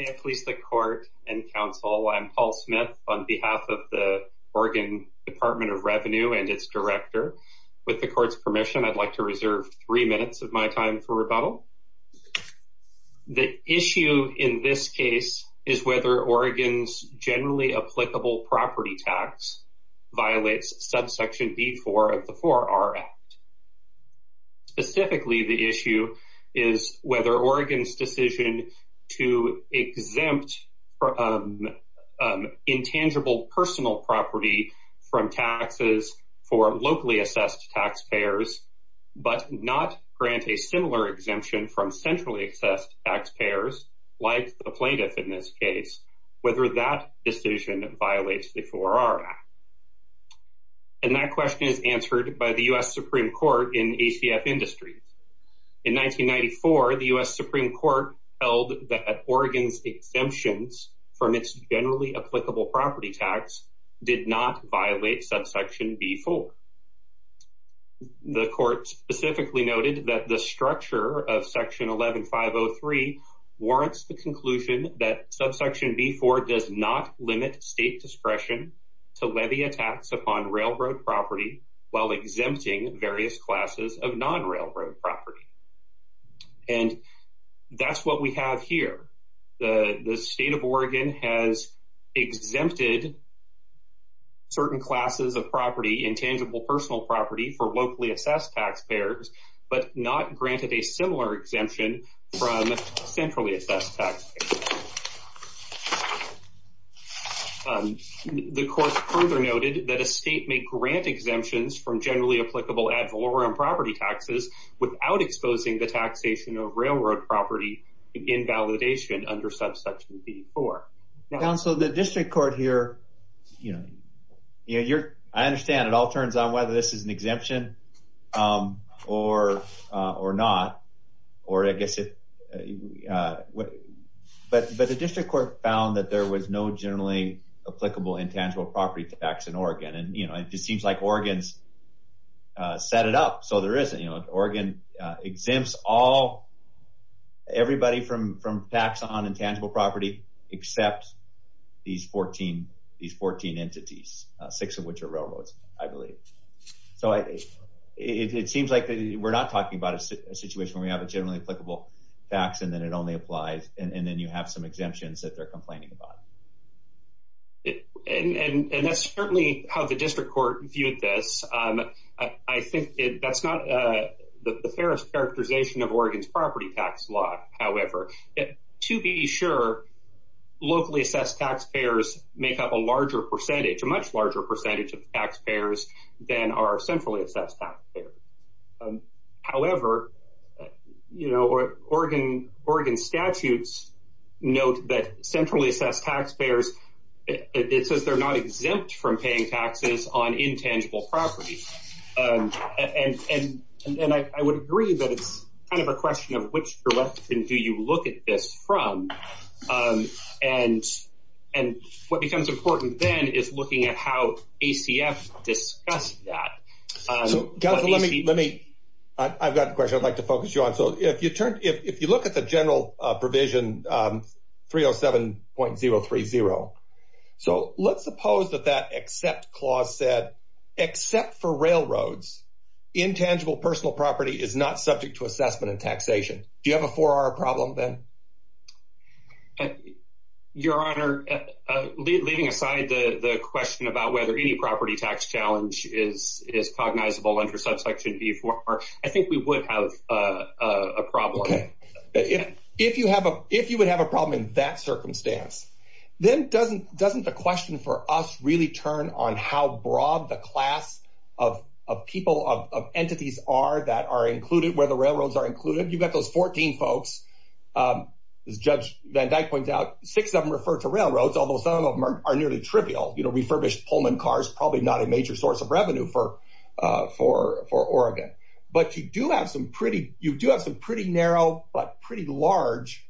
May it please the Court and Council, I'm Paul Smith on behalf of the Oregon Department of Revenue and its director. With the court's permission I'd like to reserve three minutes of my time for rebuttal. The issue in this case is whether Oregon's generally applicable property tax violates subsection b4 of the 4R Act. Specifically the issue is whether Oregon's decision to exempt intangible personal property from taxes for locally assessed taxpayers but not grant a similar exemption from centrally assessed taxpayers like the plaintiff in this case whether that decision violates the 4R Act. And that question is questioned by the U.S. Supreme Court in ACF Industries. In 1994 the U.S. Supreme Court held that Oregon's exemptions from its generally applicable property tax did not violate subsection b4. The court specifically noted that the structure of section 11503 warrants the conclusion that subsection b4 does not limit state discretion to levy a tax upon railroad property while exempting various classes of non-railroad property. And that's what we have here. The state of Oregon has exempted certain classes of property, intangible personal property, for locally assessed taxpayers but not granted a similar exemption from centrally assessed taxpayers. The court further noted that a state may grant exemptions from generally applicable ad valorem property taxes without exposing the taxation of railroad property in validation under subsection b4. So the district court here, you know, I understand it all turns on whether this is an or I guess it, but the district court found that there was no generally applicable intangible property tax in Oregon. And, you know, it just seems like Oregon's set it up so there isn't, you know, Oregon exempts all, everybody from tax on intangible property except these 14, these 14 entities, six of which are we have a generally applicable tax and then it only applies. And then you have some exemptions that they're complaining about. And that's certainly how the district court viewed this. I think that's not the fairest characterization of Oregon's property tax law. However, to be sure, locally assessed taxpayers make up a larger percentage, a much larger percentage of taxpayers than are centrally assessed. However, you know, Oregon Oregon statutes note that centrally assessed taxpayers, it says they're not exempt from paying taxes on intangible property. And, and, and I would agree that it's kind of a question of which direction do you look at this from? And, and what becomes important then is looking at how ACF discussed that. Let me I've got a question I'd like to focus you on. So if you turn if you look at the general provision 307.030. So let's suppose that that except clause said, except for railroads, intangible personal property is not subject to assessment and taxation. Do you have a four hour problem then? And your honor, leaving aside the question about whether any property tax challenge is is cognizable under subsection before, I think we would have a problem. If you have a if you would have a problem in that circumstance, then doesn't doesn't the question for us really turn on how broad the class of people of entities are that are included where the railroads are judge van Dyck points out six of them refer to railroads, although some of them are nearly trivial, you know, refurbished Pullman cars, probably not a major source of revenue for, for for Oregon. But you do have some pretty you do have some pretty narrow, but pretty large,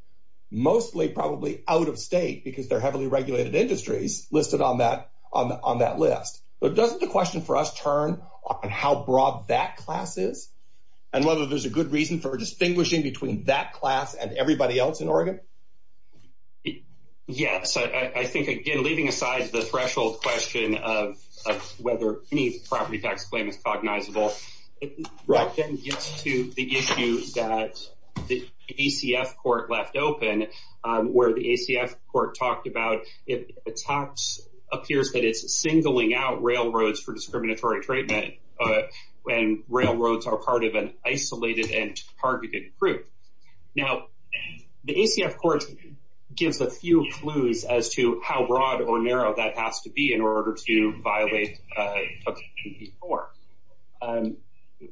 mostly probably out of state because they're heavily regulated industries listed on that on on that list. But doesn't the question for us turn on how broad that class is, and whether there's a good reason for distinguishing between that class and it? Yes, I think again, leaving aside the threshold question of whether any property tax claim is cognizable, right? Then gets to the issue that the ECF court left open where the ECF court talked about it. Attacks appears that it's singling out railroads for discriminatory treatment when railroads are part of an isolated and targeted group. Now, the ECF court gives a few clues as to how broad or narrow that has to be in order to violate before.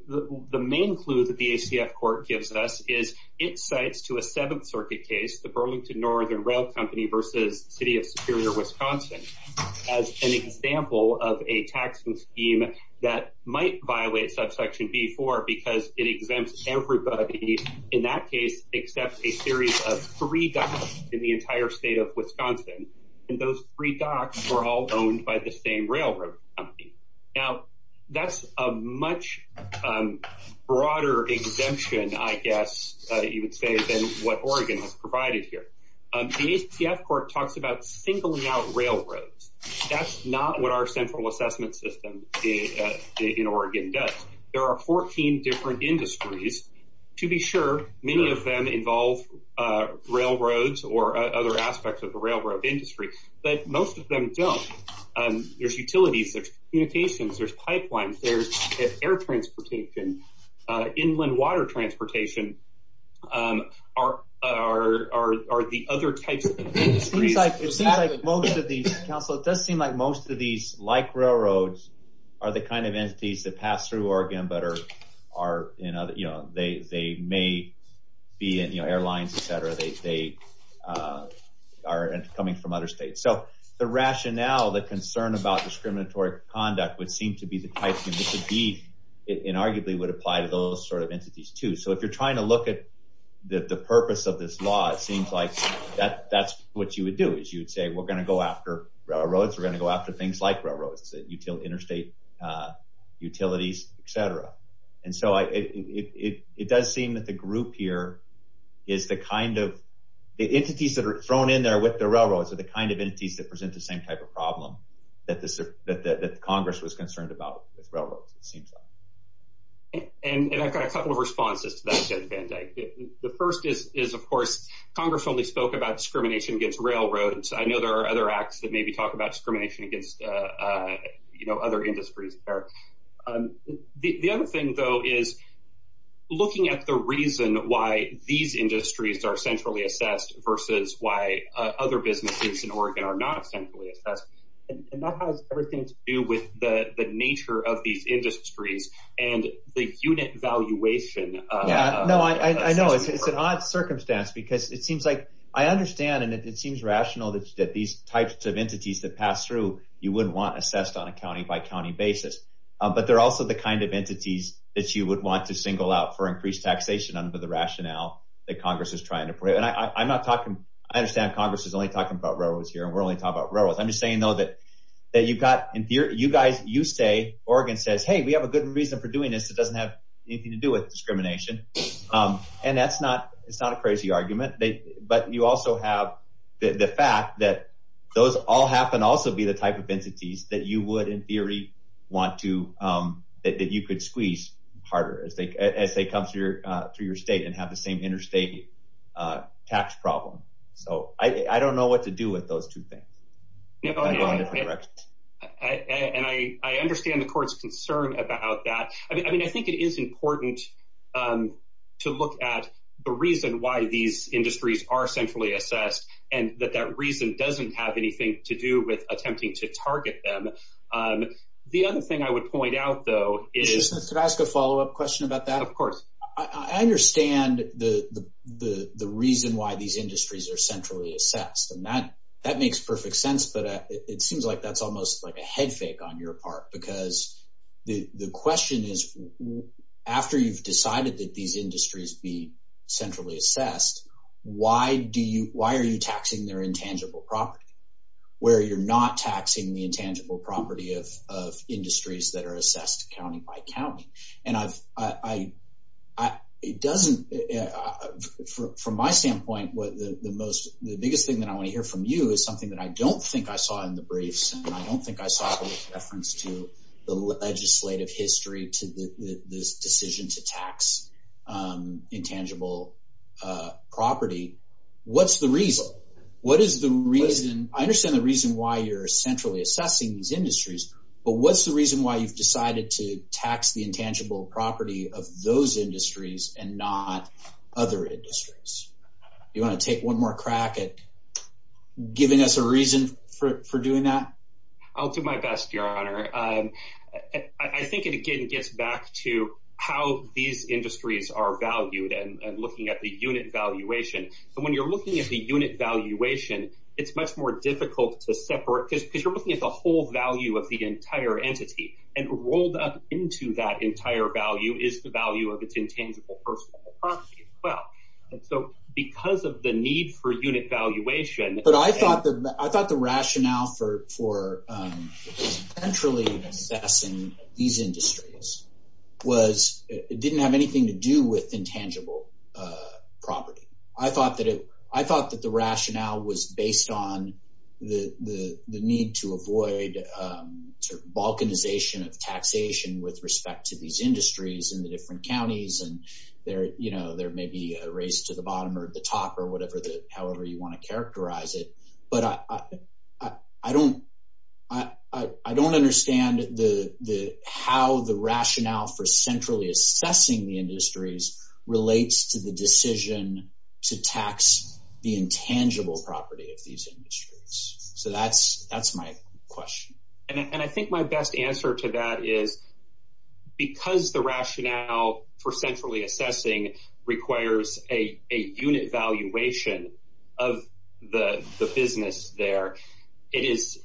The main clue that the ECF court gives us is it cites to a Seventh Circuit case, the Burlington Northern Rail Company versus city of Superior Wisconsin as an example of a taxing scheme that might violate subsection before because it exempts everybody in that case except a series of three dollars in the entire state of Wisconsin. And those three docks were all owned by the same railroad company. Now, that's a much broader exemption, I guess you would say, than what Oregon has provided here. The ECF court talks about singling out railroads. That's not what our central assessment system in Oregon does. There are 14 different industries. To be sure, many of them involve railroads or other aspects of the railroad industry, but most of them don't. There's utilities, there's communications, there's pipelines, there's air transportation. Inland water transportation are the other types of industries. It seems like most of these, counsel, it does seem like most of these, like railroads, are the kind of entities that pass through Oregon, but are in other... They may be in airlines, etc. They are coming from other states. So the rationale, the concern about discriminatory conduct would seem to be the type that would be, and arguably would apply to those sort of entities too. So if you're trying to look at the purpose of this law, it seems like that's what you would do, is you would say, we're gonna go after railroads, we're gonna go after things like railroads, interstate utilities, etc. And so it does seem that the group here is the kind of... The entities that are thrown in there with the railroads are the kind of entities that present the same type of problem that Congress was concerned about with railroads, it seems like. And I've heard some of the reasons. Of course, Congress only spoke about discrimination against railroads. I know there are other acts that maybe talk about discrimination against other industries there. The other thing, though, is looking at the reason why these industries are centrally assessed versus why other businesses in Oregon are not centrally assessed. And that has everything to do with the nature of these industries and the unit valuation of... Yeah, no, I know. It's an odd circumstance because it seems like... I understand and it seems rational that these types of entities that pass through, you wouldn't want assessed on a county by county basis. But they're also the kind of entities that you would want to single out for increased taxation under the rationale that Congress is trying to put out. And I'm not talking... I understand Congress is only talking about railroads here and we're only talking about railroads. I'm just saying, though, that you've got... You guys, you say, Oregon says, hey, we have a good reason for doing this. It doesn't have anything to do with discrimination. And that's not... It's not a crazy argument, but you also have the fact that those all happen to also be the type of entities that you would, in theory, want to... That you could squeeze harder as they come through your state and have the same interstate tax problem. So I don't know what to do with those two things. And I go in different directions. And I understand the reason why it's important to look at the reason why these industries are centrally assessed, and that that reason doesn't have anything to do with attempting to target them. The other thing I would point out, though, is... Could I ask a follow up question about that? Of course. I understand the reason why these industries are centrally assessed. And that makes perfect sense, but it seems like that's almost like a head shake on your part. Because the question is, after you've decided that these industries be centrally assessed, why are you taxing their intangible property, where you're not taxing the intangible property of industries that are assessed county by county? And I've... It doesn't... From my standpoint, the biggest thing that I wanna hear from you is something that I don't think I saw in the reference to the legislative history to this decision to tax intangible property. What's the reason? What is the reason... I understand the reason why you're centrally assessing these industries, but what's the reason why you've decided to tax the intangible property of those industries and not other industries? You wanna take one more crack at giving us a reason for doing that? I'll do my best, Your Honor. I think it again gets back to how these industries are valued and looking at the unit valuation. And when you're looking at the unit valuation, it's much more difficult to separate... Because you're looking at the whole value of the entire entity, and rolled up into that entire value is the value of its intangible personal property as well. And so because of the need for unit valuation... But I thought the rationale for centrally assessing these industries was... It didn't have anything to do with intangible property. I thought that the rationale was based on the need to avoid sort of balkanization of taxation with respect to these industries in the different counties, and there may be a raise to the top or whatever, however you wanna characterize it. But I don't understand how the rationale for centrally assessing the industries relates to the decision to tax the intangible property of these industries. So that's my question. And I think my best answer to that is because the rationale for centrally assessing requires a unit valuation of the business there, it's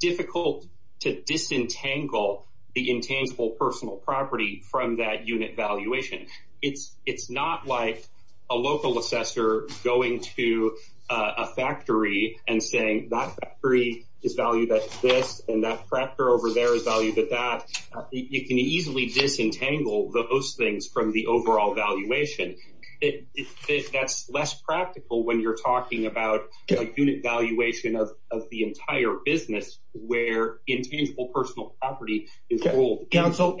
difficult to disentangle the intangible personal property from that unit valuation. It's not like a local assessor going to a factory and saying, that factory is valued at this, and that prepter over there is valued at that. It can easily disentangle those things from the overall valuation. That's less practical when you're talking about a unit valuation of the entire business where intangible personal property is ruled. Council,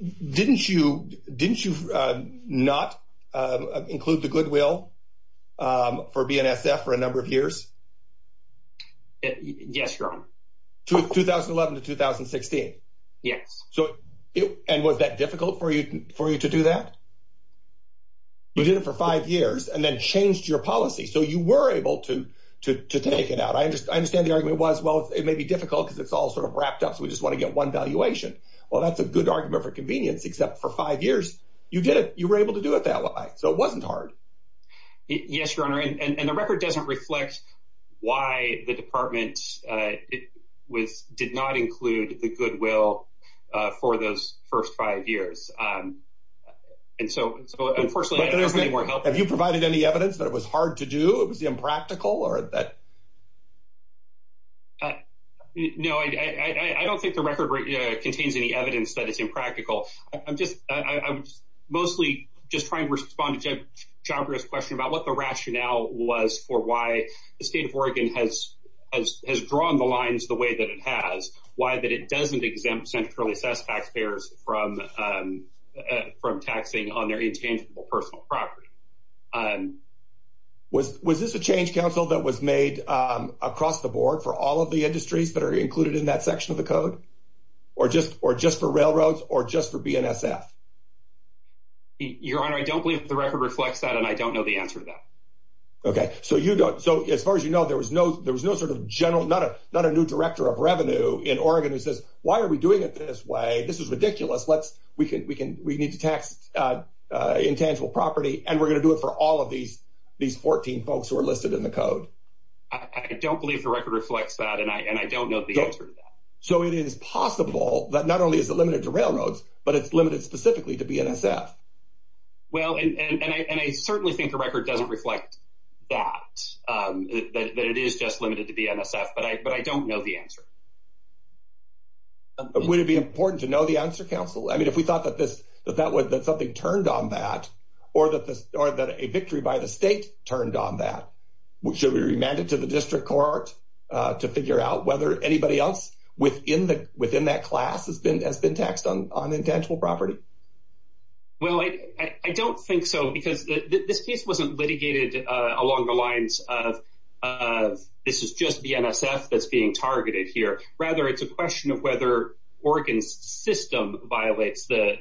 didn't you not include the goodwill for BNSF for a number of years? Yes, Your Honor. 2011 to 2016? Yes. And was that difficult for you to do that? You did it for five years and then changed your policy, so you were able to take it out. I understand the argument was, well, it may be difficult because it's all wrapped up, so we just wanna get one valuation. Well, that's a good argument for convenience, except for five years, you did it, you were able to do it that way, so it wasn't hard. Yes, Your Honor. And the record doesn't reflect why the department did not include the goodwill for those first five years. And so, unfortunately... Have you provided any evidence that it was hard to do, it was impractical, or that... No, I don't think the record contains any evidence that it's impractical. I'm mostly just trying to respond to John Greer's question about what the rationale was for why the state of Oregon has drawn the lines the way that it has, why that it doesn't exempt centrally assessed taxpayers from taxing on their intangible personal property. Was this a change council that was made across the board for all of the industries that are included in that section of the code, or just for railroads, or just for BNSF? Your Honor, I don't believe the record reflects that, and I don't know the answer to that. Okay, so you don't... So, as far as you know, there was no sort of general... Not a new director of revenue in Oregon who says, why are we doing it this way? This is ridiculous, let's... We need to tax intangible property, and we're gonna do it for all of these 14 folks who are listed in the code. I don't believe the record reflects that, and I don't know the answer to that. So it is limited specifically to BNSF. Well, and I certainly think the record doesn't reflect that, that it is just limited to BNSF, but I don't know the answer. But would it be important to know the answer, counsel? If we thought that something turned on that, or that a victory by the state turned on that, should we remand it to the district court to figure out whether anybody else within that class has been taxed on intangible property? Well, I don't think so, because this case wasn't litigated along the lines of, this is just BNSF that's being targeted here. Rather, it's a question of whether Oregon's system violates the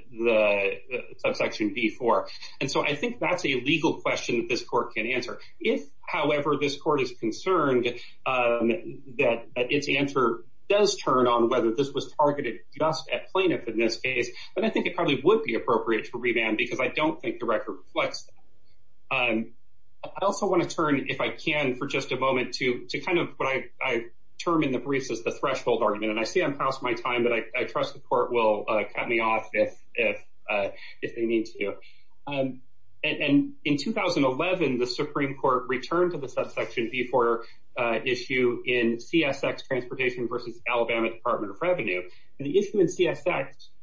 subsection B4. And so I think that's a legal question that this court can answer. If, however, this court is concerned that its answer does turn on whether this was targeted just at plaintiff in this case, then I think it probably would be appropriate to remand, because I don't think the record reflects that. I also wanna turn, if I can, for just a moment to kind of what I term in the briefs as the threshold argument. And I see I'm past my time, but I trust the court will cut me off if they need to. And in 2011, the Supreme Court returned to the subsection B4 issue in CSX Transportation versus Alabama Department of Revenue. And the issue in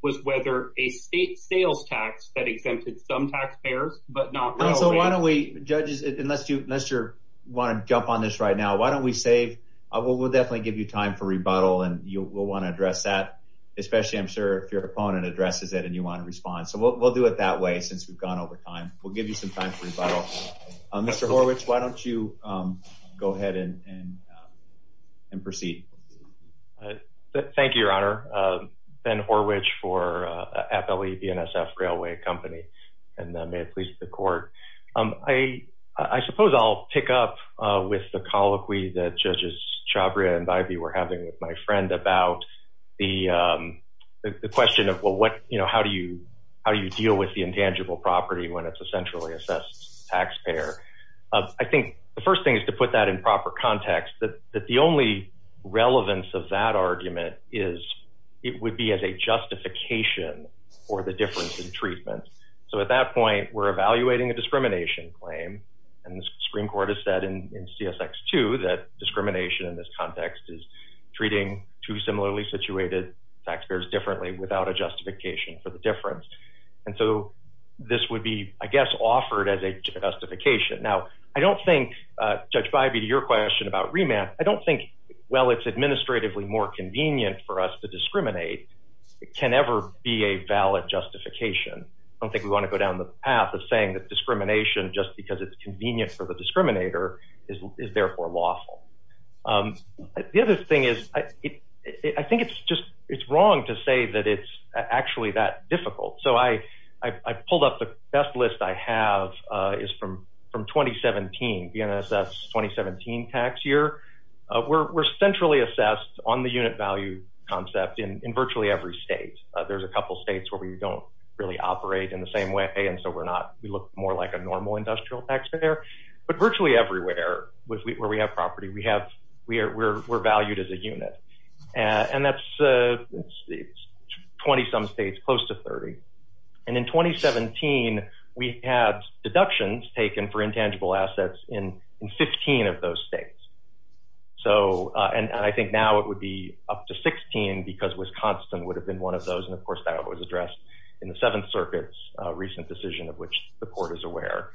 was whether a state sales tax that exempted some taxpayers, but not Alabama. And so why don't we, judges, unless you wanna jump on this right now, why don't we save... We'll definitely give you time for rebuttal, and you will wanna address that, especially, I'm sure, if your opponent addresses it and you wanna respond. So we'll do it that way since we've gone over time. We'll give you some time for rebuttal. Mr. Horwich, why don't you go ahead and proceed? Thank you, Your Honor. Ben Horwich for Appellee BNSF Railway Company, and may it please the court. I suppose I'll pick up with the colloquy that judges Chhabria and Bybee were having with my friend about the question of, well, how do you deal with the intangible property when it's a centrally assessed taxpayer? I think the first thing is to put that in proper context, that the only relevance of that argument is it would be as a justification for the difference in treatment. So at that point, we're evaluating a discrimination claim, and the Supreme Court has said in CSX2 that discrimination in this context is treating two similarly situated taxpayers differently without a justification for the difference. And so this would be, I guess, offered as a question about remand. I don't think, well, it's administratively more convenient for us to discriminate. It can never be a valid justification. I don't think we wanna go down the path of saying that discrimination, just because it's convenient for the discriminator, is therefore lawful. The other thing is, I think it's just... It's wrong to say that it's actually that difficult. So I pulled up the best list I have is from 2017, BNSS 2017 tax year. We're centrally assessed on the unit value concept in virtually every state. There's a couple states where we don't really operate in the same way, and so we're not... We look more like a normal industrial taxpayer. But virtually everywhere where we have property, we're valued as a unit. And that's in 20 some states, close to 30. And in 2017, we had deductions taken for intangible assets in 15 of those states. And I think now it would be up to 16 because Wisconsin would have been one of those, and of course that was addressed in the Seventh Circuit's recent decision of which the court is aware.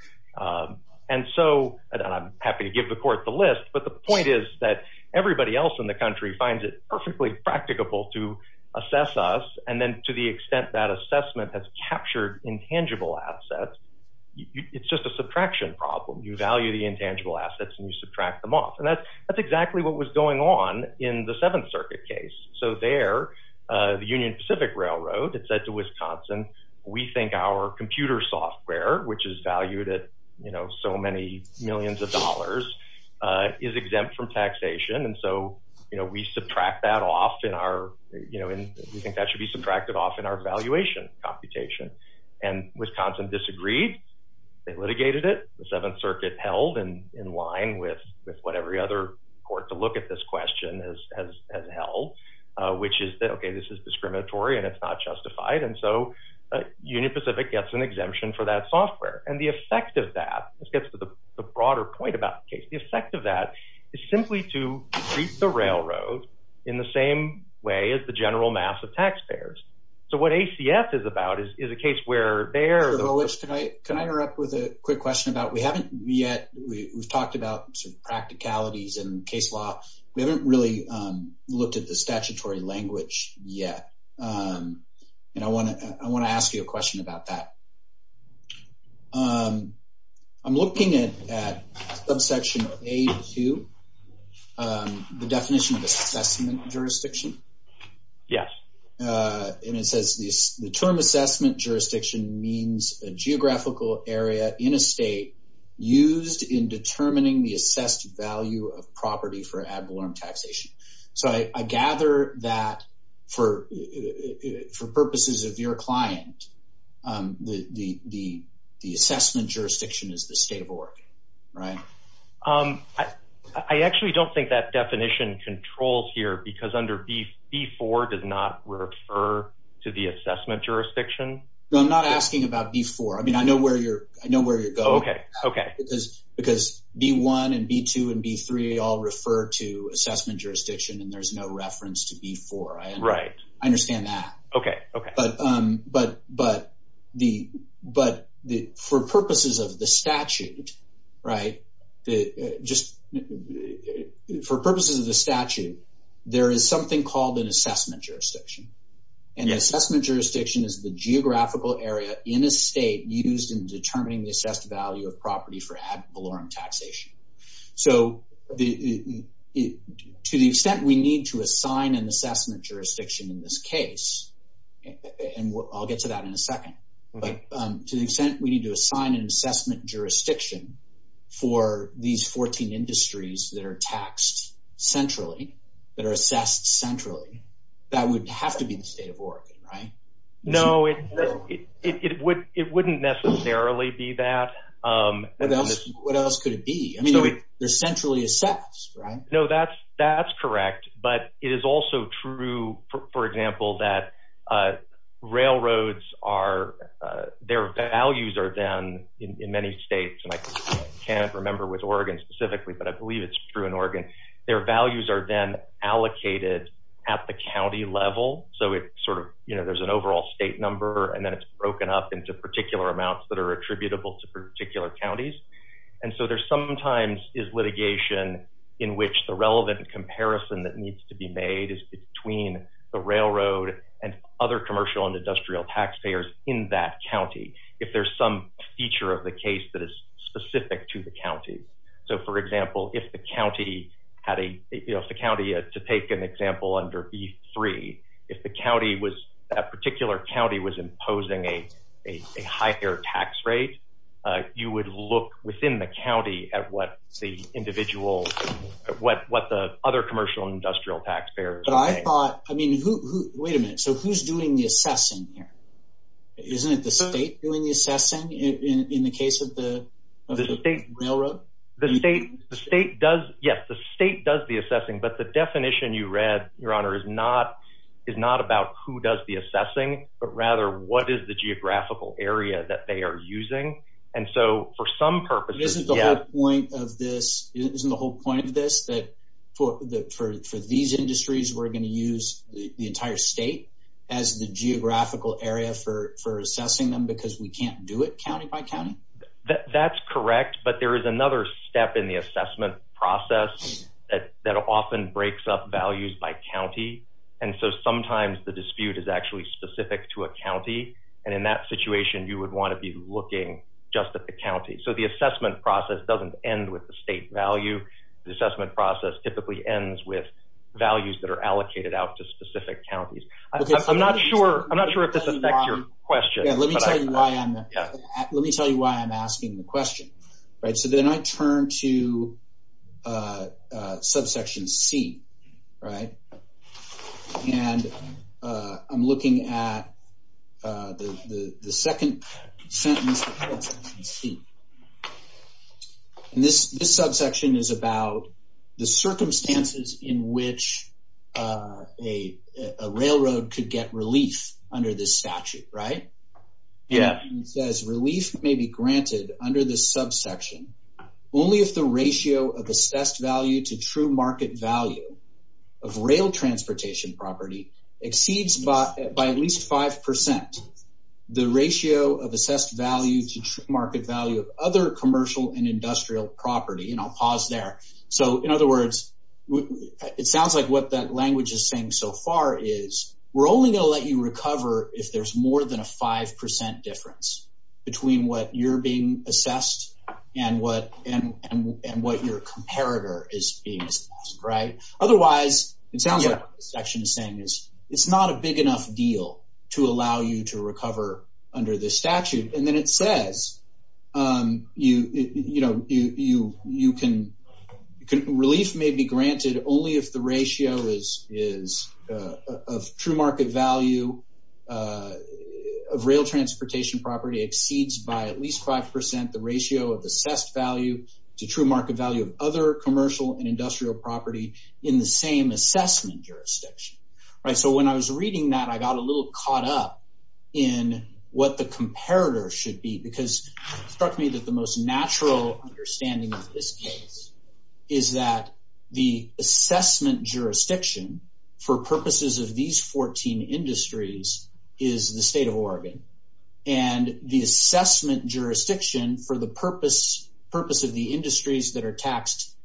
And so, and I'm happy to give the court the list, but the point is that everybody else in the country finds it perfectly practicable to assess us, and then to the extent that assessment has captured intangible assets, it's just a subtraction problem. You value the intangible assets and you subtract them off. And that's exactly what was going on in the Seventh Circuit case. So there, the Union Pacific Railroad, it said to Wisconsin, we think our computer software, which is valued at so many millions of dollars, is exempt from taxation. And so we subtract that off in our... We think that should be subtracted off in our valuation computation. And Wisconsin disagreed, they litigated it, the Seventh Circuit held in line with what every other court to look at this question has held, which is that, okay, this is discriminatory and it's not justified. And so Union Pacific gets an exemption for that software. And the effect of that, this gets to the broader point about the case, the effect of that is simply to treat the railroad in the same way as the general mass of taxpayers. So what ACF is about is a case where they are... Can I interrupt with a quick question about... We haven't yet... We've talked about some practicalities in case law, we haven't really looked at the statutory language yet. And I wanna ask you a question about that. I'm looking at subsection A2, the definition of assessment jurisdiction. Yes. And it says, the term assessment jurisdiction means a geographical area in a state used in determining the assessed value of property for ad valorem taxation. So I gather that for purposes of your client, the assessment jurisdiction is the state of Oregon, right? I actually don't think that definition controls here because under B4 does not refer to the assessment jurisdiction. No, I'm not asking about B4. I mean, I know where you're going. Okay, okay. Because B1 and B2 and B3 all refer to assessment jurisdiction and there's no reference to B4. Right. I understand that. Okay, okay. But for purposes of the statute, right, just... For purposes of the statute, there is something called an assessment jurisdiction. And an assessment jurisdiction is the geographical area in a state used in determining the assessed value of property for an assessment jurisdiction in this case. And I'll get to that in a second. But to the extent we need to assign an assessment jurisdiction for these 14 industries that are taxed centrally, that are assessed centrally, that would have to be the state of Oregon, right? No, it wouldn't necessarily be that. What else could it be? I mean, they're centrally assessed, right? No, that's correct. But it is also true, for example, that railroads are... Their values are then, in many states, and I can't remember with Oregon specifically, but I believe it's true in Oregon, their values are then allocated at the county level. So it sort of... There's an overall state number and then it's broken up into particular amounts that are attributable to particular counties. And so there sometimes is litigation in which the relevant comparison that needs to be made is between the railroad and other commercial and industrial tax payers in that county, if there's some feature of the case that is specific to the county. So for example, if the county had a... If the county... To take an example under B3, if the county was... That particular county was imposing a higher tax rate, you would look within the county at what the individual what the other commercial and industrial tax payers are paying. But I thought... I mean, who... Wait a minute. So who's doing the assessing here? Isn't it the state doing the assessing in the case of the railroad? The state does... Yes, the state does the assessing, but the definition you read, Your Honor, is not about who does the assessing, but rather what is the geographical area that they are using. And so for some purposes... Isn't the whole point of this that for these industries, we're gonna use the entire state as the geographical area for assessing them because we can't do it county by county? That's correct, but there is another step in the assessment process that often breaks up values by county. And so sometimes the dispute is actually specific to a county, and in that situation, you would wanna be looking just at the county. So the assessment process doesn't end with the state value. The assessment process typically ends with values that are allocated out to specific counties. I'm not sure if this affects your question, but I... Yeah, let me tell you why I'm... Let me tell you why I'm asking the question. So then I turn to subsection C, and I'm looking at the second sentence of subsection C. And this subsection is about the circumstances in which a railroad could get relief under this statute, right? Yeah. It says, relief may be granted under this subsection only if the ratio of assessed value to true market value of rail transportation property exceeds by at least 5% the ratio of assessed value to true market value of other commercial and industrial property. And I'll pause there. So in other words, it sounds like what that language is saying so far is we're only gonna let you recover if there's more than a 5% difference between what you're being assessed and what your comparator is being assessed, right? Otherwise, it sounds like what this section is saying is it's not a big enough deal to allow you to recover under this statute. And then it says, relief may be granted only if the ratio is... Of true market value of rail transportation property exceeds by at least 5% the ratio of assessed value to true market value of other commercial and industrial property in the same assessment jurisdiction, right? So when I was reading that, I got a little caught up in what the comparator should be because it struck me that the most natural understanding of this case is that the assessment jurisdiction for purposes of these 14 industries is the state of Oregon. And the assessment jurisdiction for the purpose of the industries that are assessed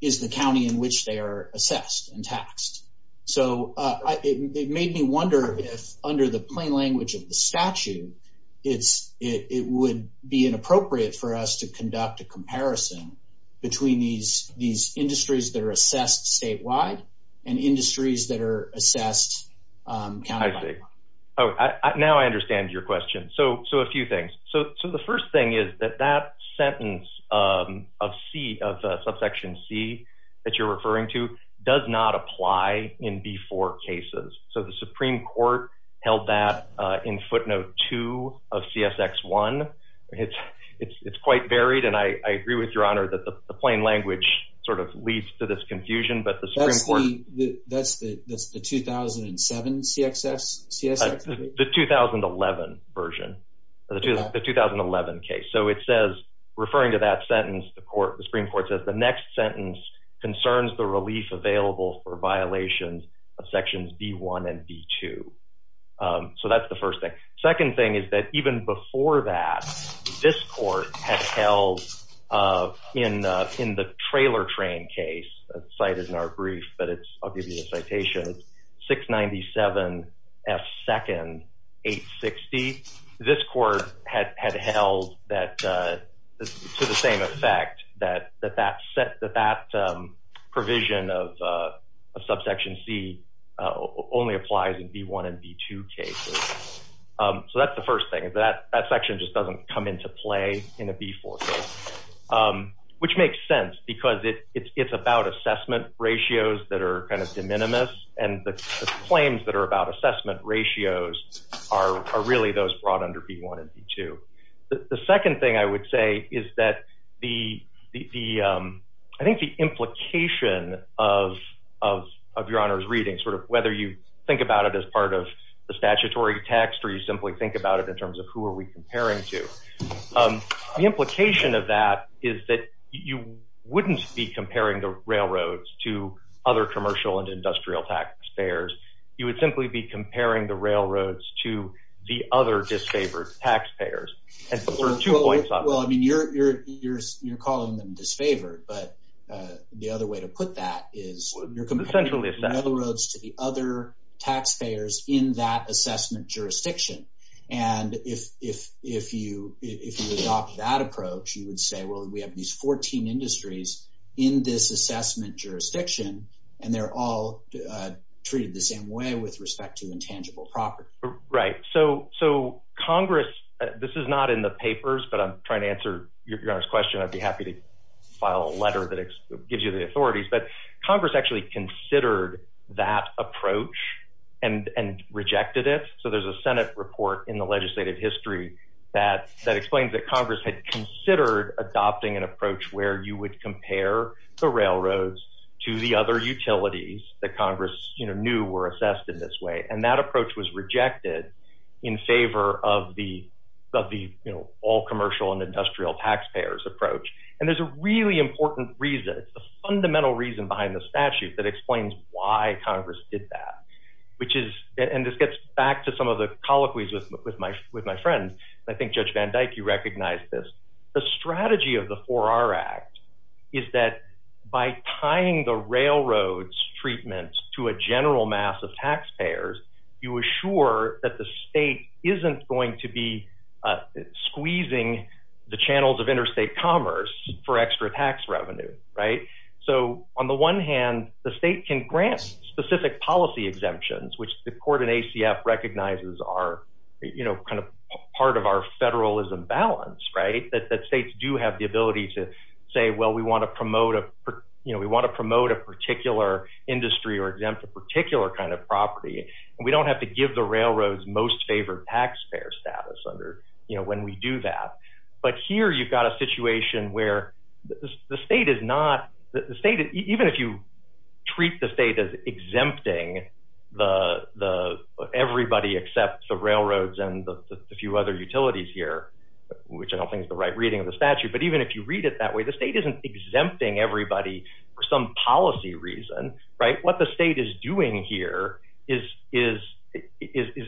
is the county in which they are assessed and taxed. So it made me wonder if under the plain language of the statute, it would be inappropriate for us to conduct a comparison between these industries that are assessed statewide and industries that are assessed countywide. I see. Now I understand your question. So a few things. So the first thing is that that sentence of C, of subsection C that you're referring to does not apply in B4 cases. So the Supreme Court held that in footnote two of CSX one. It's quite varied and I agree with your honor that the plain language sort of leads to this confusion, but the Supreme Court... That's the 2007 CSX? The 2011 version, the 2011 case. So it says, referring to that sentence, the Supreme Court says the next sentence concerns the relief available for violations of sections B1 and B2. So that's the first thing. Second thing is that even before that, this court has held in the trailer train case, cited in our brief, but I'll give you a citation, 697 F2nd 860. This court had held that to the same effect, that that provision of subsection C only applies in B1 and B2 cases. So that's the first thing. That section just doesn't come into play in a B4 case, which makes sense because it's about assessment ratios that are kind of de minimis and the claims that are about assessment ratios are really those brought under B1 and B2. The second thing I would say is that the... I think the implication of your honor's reading, sort of whether you think about it as part of the statutory text or you simply think about it in the implication of that is that you wouldn't be comparing the railroads to other commercial and industrial taxpayers. You would simply be comparing the railroads to the other disfavored taxpayers. And there are two points on that. Well, I mean, you're calling them disfavored, but the other way to put that is you're comparing the railroads to the other taxpayers in that assessment jurisdiction. And if you adopt that approach, you would say, well, we have these 14 industries in this assessment jurisdiction and they're all treated the same way with respect to intangible property. Right. So Congress... This is not in the papers, but I'm trying to answer your honor's question. I'd be happy to file a letter that gives you the authorities. But Congress actually considered that approach and rejected it. So there's a Senate report in the legislative history that explains that Congress had considered adopting an approach where you would compare the railroads to the other utilities that Congress knew were assessed in this way. And that approach was rejected in favor of the all commercial and industrial taxpayers approach. And there's a really good report that explains why Congress did that, which is... And this gets back to some of the colloquies with my friends. I think Judge Van Dyke, you recognize this. The strategy of the 4R Act is that by tying the railroads treatment to a general mass of taxpayers, you assure that the state isn't going to be squeezing the channels of interstate commerce for extra tax revenue. Right. So on the one hand, the state can grant specific policy exemptions, which the court in ACF recognizes are kind of part of our federalism balance. Right. That states do have the ability to say, well, we want to promote a particular industry or exempt a particular kind of property. And we don't have to give the railroads most favored taxpayer status under when we do that. But here you've got a situation where the state is not... Even if you treat the state as exempting everybody except the railroads and a few other utilities here, which I don't think is the right reading of the statute. But even if you read it that way, the state isn't exempting everybody for some policy reason. Right. What the state is doing here is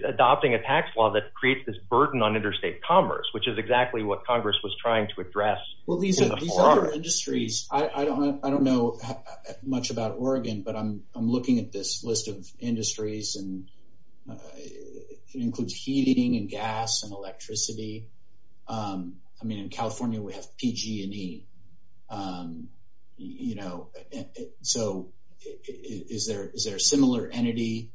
adopting a tax law that creates this burden on interstate commerce, which is exactly what Congress was trying to address. Well, these other industries, I don't know much about Oregon, but I'm looking at this list of industries and it includes heating and gas and electricity. I mean, in California we have PG&E. So is there a similar entity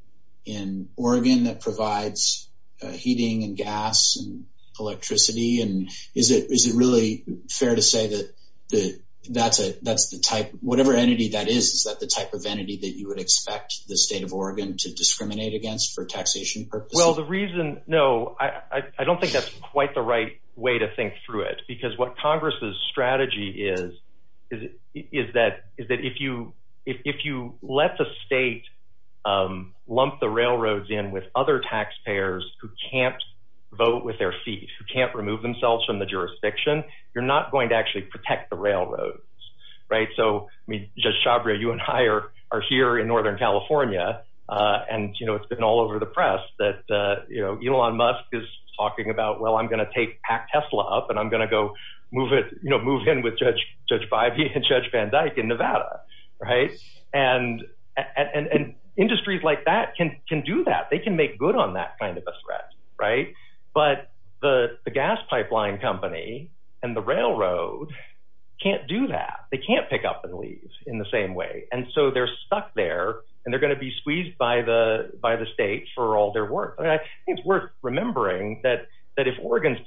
in Oregon that provides heating and gas and electricity? And is it really fair to say that that's the type, whatever entity that is, is that the type of entity that you would expect the state of Oregon to discriminate against for taxation purposes? Well, the reason, no, I don't think that's quite the right way to think through it. Because what Congress's strategy is, is that if you let the state lump the railroads in with other taxpayers who can't vote with their feet, who can't remove themselves from the jurisdiction, you're not going to actually protect the railroads. Right. So I mean, Judge Chabria, you and I are here in Northern California and, you know, it's been all over the press that, you know, Elon Musk is talking about, well, I'm gonna take Tesla up and I'm gonna go move it, you know, move in with Judge Bivey and Judge Van Dyke in Nevada. Right. And industries like that can do that. They can make good on that kind of a threat. Right. But the gas pipeline company and the railroad can't do that. They can't pick up and leave in the same way. And so they're stuck there and they're going to be squeezed by the state for all their work. I think it's worth remembering that if Oregon's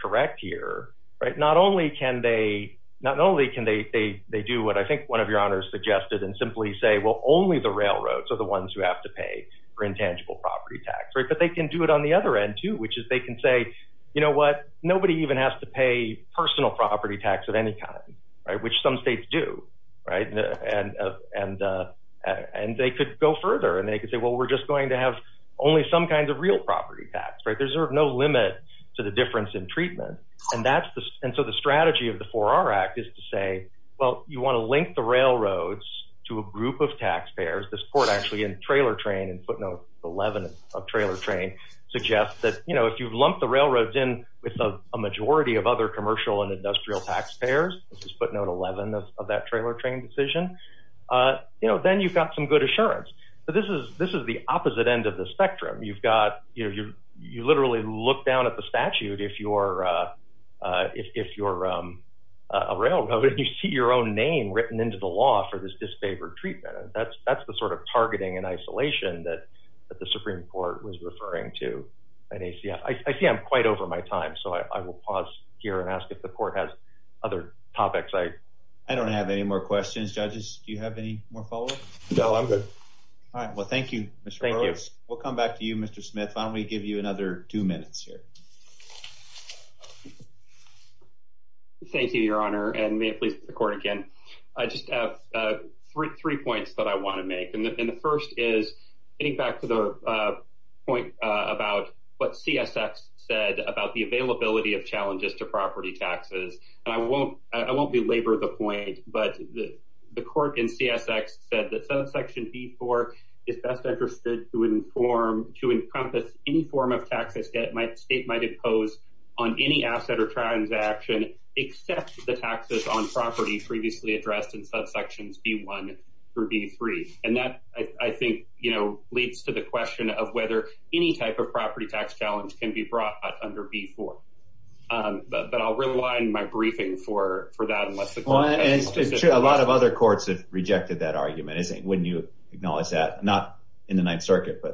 correct here, right, not only can they, not only can they, they, they do what I think one of your honors suggested and simply say, well, only the railroads are the ones who have to pay for intangible property tax. Right. But they can do it on the other end too, which is they can say, you know what, nobody even has to pay personal property tax at any time. Right. Which some states do. Right. And, uh, and, uh, and they could go further and they could say, well, we're just going to have only some kinds of real property tax. Right. There's no limit to the difference in treatment. And that's the, and so the strategy of the four R act is to say, well, you want to link the railroads to a group of taxpayers. This court actually in trailer train and footnote 11 of trailer train suggests that, you know, if you've lumped the railroads in with a majority of other commercial and industrial taxpayers, this is footnote 11 of that trailer train decision. Uh, you know, then you've got some good assurance, but this is, this is the opposite end of the spectrum. You've got, you know, you're, you would, if you're, uh, uh, if, if you're, um, a railroad, you see your own name written into the law for this disfavored treatment. That's, that's the sort of targeting and isolation that the Supreme Court was referring to. And he said, I see I'm quite over my time. So I will pause here and ask if the court has other topics. I, I don't have any more questions. Judges, do you have any more follow up? No, I'm good. All right. Well, thank you. Thank you. We'll come another two minutes here. Thank you, Your Honor. And may it please the court again. I just have three points that I want to make. And the first is getting back to the point about what CSX said about the availability of challenges to property taxes. And I won't, I won't belabor the point, but the court in CSX said that any form of taxes that my state might impose on any asset or transaction except the taxes on property previously addressed in subsections B one through B three. And that I think, you know, leads to the question of whether any type of property tax challenge can be brought under B four. Um, but I'll rely on my briefing for, for that. Unless a lot of other courts have rejected that argument. Isn't when you acknowledge that not in the Ninth Circuit, there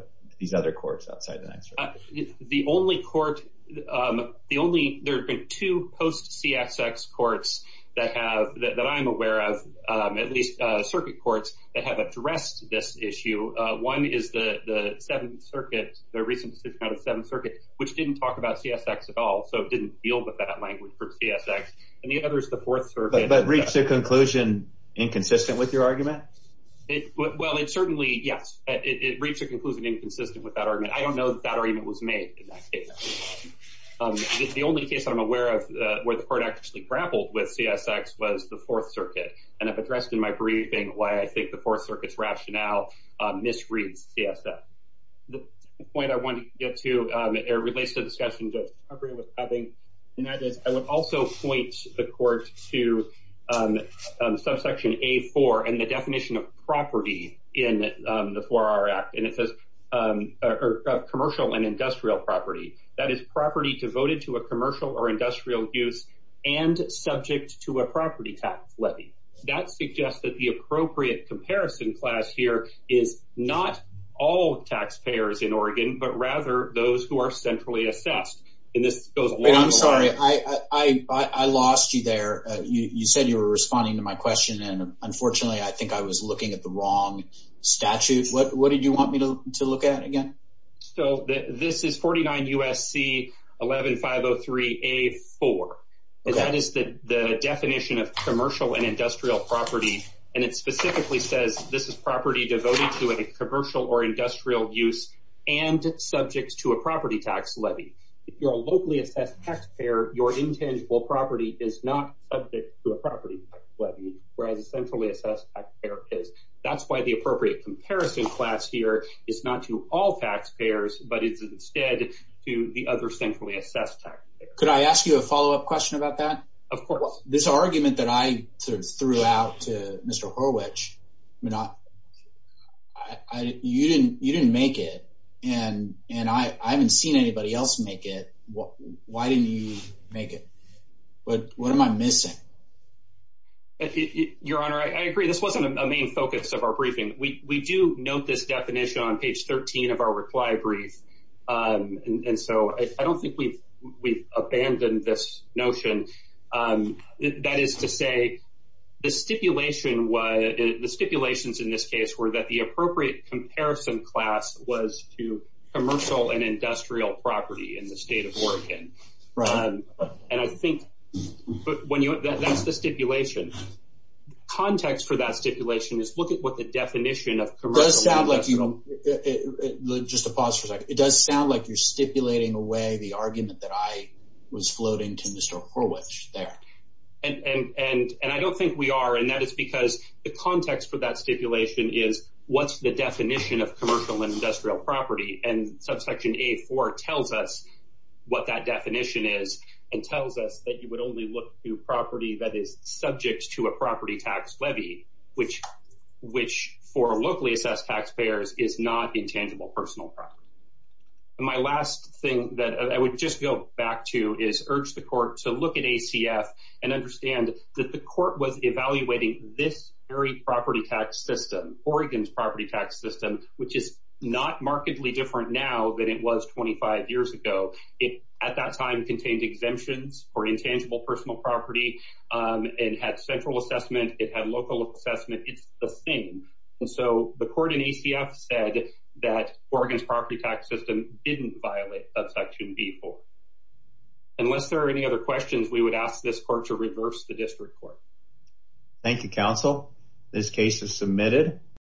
are other courts outside the Ninth Circuit? The only court, the only, there have been two post-CSX courts that have, that I'm aware of, at least circuit courts that have addressed this issue. One is the Seventh Circuit, the recent decision out of the Seventh Circuit, which didn't talk about CSX at all. So it didn't deal with that language for CSX. And the other is the Fourth Circuit. But it reached a conclusion inconsistent with your argument? Well, it certainly, yes, it reached a conclusion inconsistent with that argument. I don't know that that argument was made in that case. The only case that I'm aware of where the court actually grappled with CSX was the Fourth Circuit. And I've addressed in my briefing why I think the Fourth Circuit's rationale misreads CSX. The point I wanted to get to relates to the discussion that Debra was having. And that is, I would also point the court to subsection A four and the definition of property in the 4R Act. And it says commercial and industrial property. That is, property devoted to a commercial or industrial use and subject to a property tax levy. That suggests that the appropriate comparison class here is not all taxpayers in Oregon, but rather those who are centrally assessed. And this goes a long way. I'm sorry, I lost you there. You said you were responding to my question. And unfortunately, I think I was looking at the wrong statute. What did you want me to look at again? So this is 49 U.S.C. 11-503-A-4. And that is the definition of commercial and industrial property. And it specifically says this is property devoted to a commercial or industrial use and subject to a property tax levy. If you're a locally assessed taxpayer, your intangible property is not subject to a property tax levy, whereas a centrally assessed taxpayer is. That's why the appropriate comparison class here is not to all taxpayers, but it's instead to the other centrally assessed taxpayer. Could I ask you a follow-up question about that? Of course. This argument that I sort of threw out to Mr. Horwich, you didn't make it. And I haven't seen anybody else make it. Why didn't you make it? What am I missing? Your Honor, I agree. This wasn't a main focus of our briefing. We do note this definition on page 13 of our reply brief. And so I don't think we've abandoned this notion. That is to say the stipulations in this case were that the appropriate comparison class was to commercial and industrial property in the state of Oregon. Right. And I think that's the stipulation. Context for that stipulation is look at what the definition of commercial… Just a pause for a second. It does sound like you're stipulating away the argument that I was floating to Mr. Horwich there. And I don't think we are. And that is because the context for that stipulation is what's the definition of commercial and industrial property. And subsection A-4 tells us what that definition is and tells us that you would only look to property that is subject to a property tax levy, which for locally assessed taxpayers is not intangible personal property. My last thing that I would just go back to is urge the court to look at ACF and understand that the court was evaluating this very property tax system, Oregon's property tax system, which is not markedly different now than it was 25 years ago. It at that time contained exemptions for intangible personal property. It had central assessment. It had local assessment. It's the same. And so the court in ACF said that Oregon's property tax system didn't violate subsection B-4. Unless there are any other questions, we would ask this court to reverse the district court. Thank you, counsel. This case is submitted.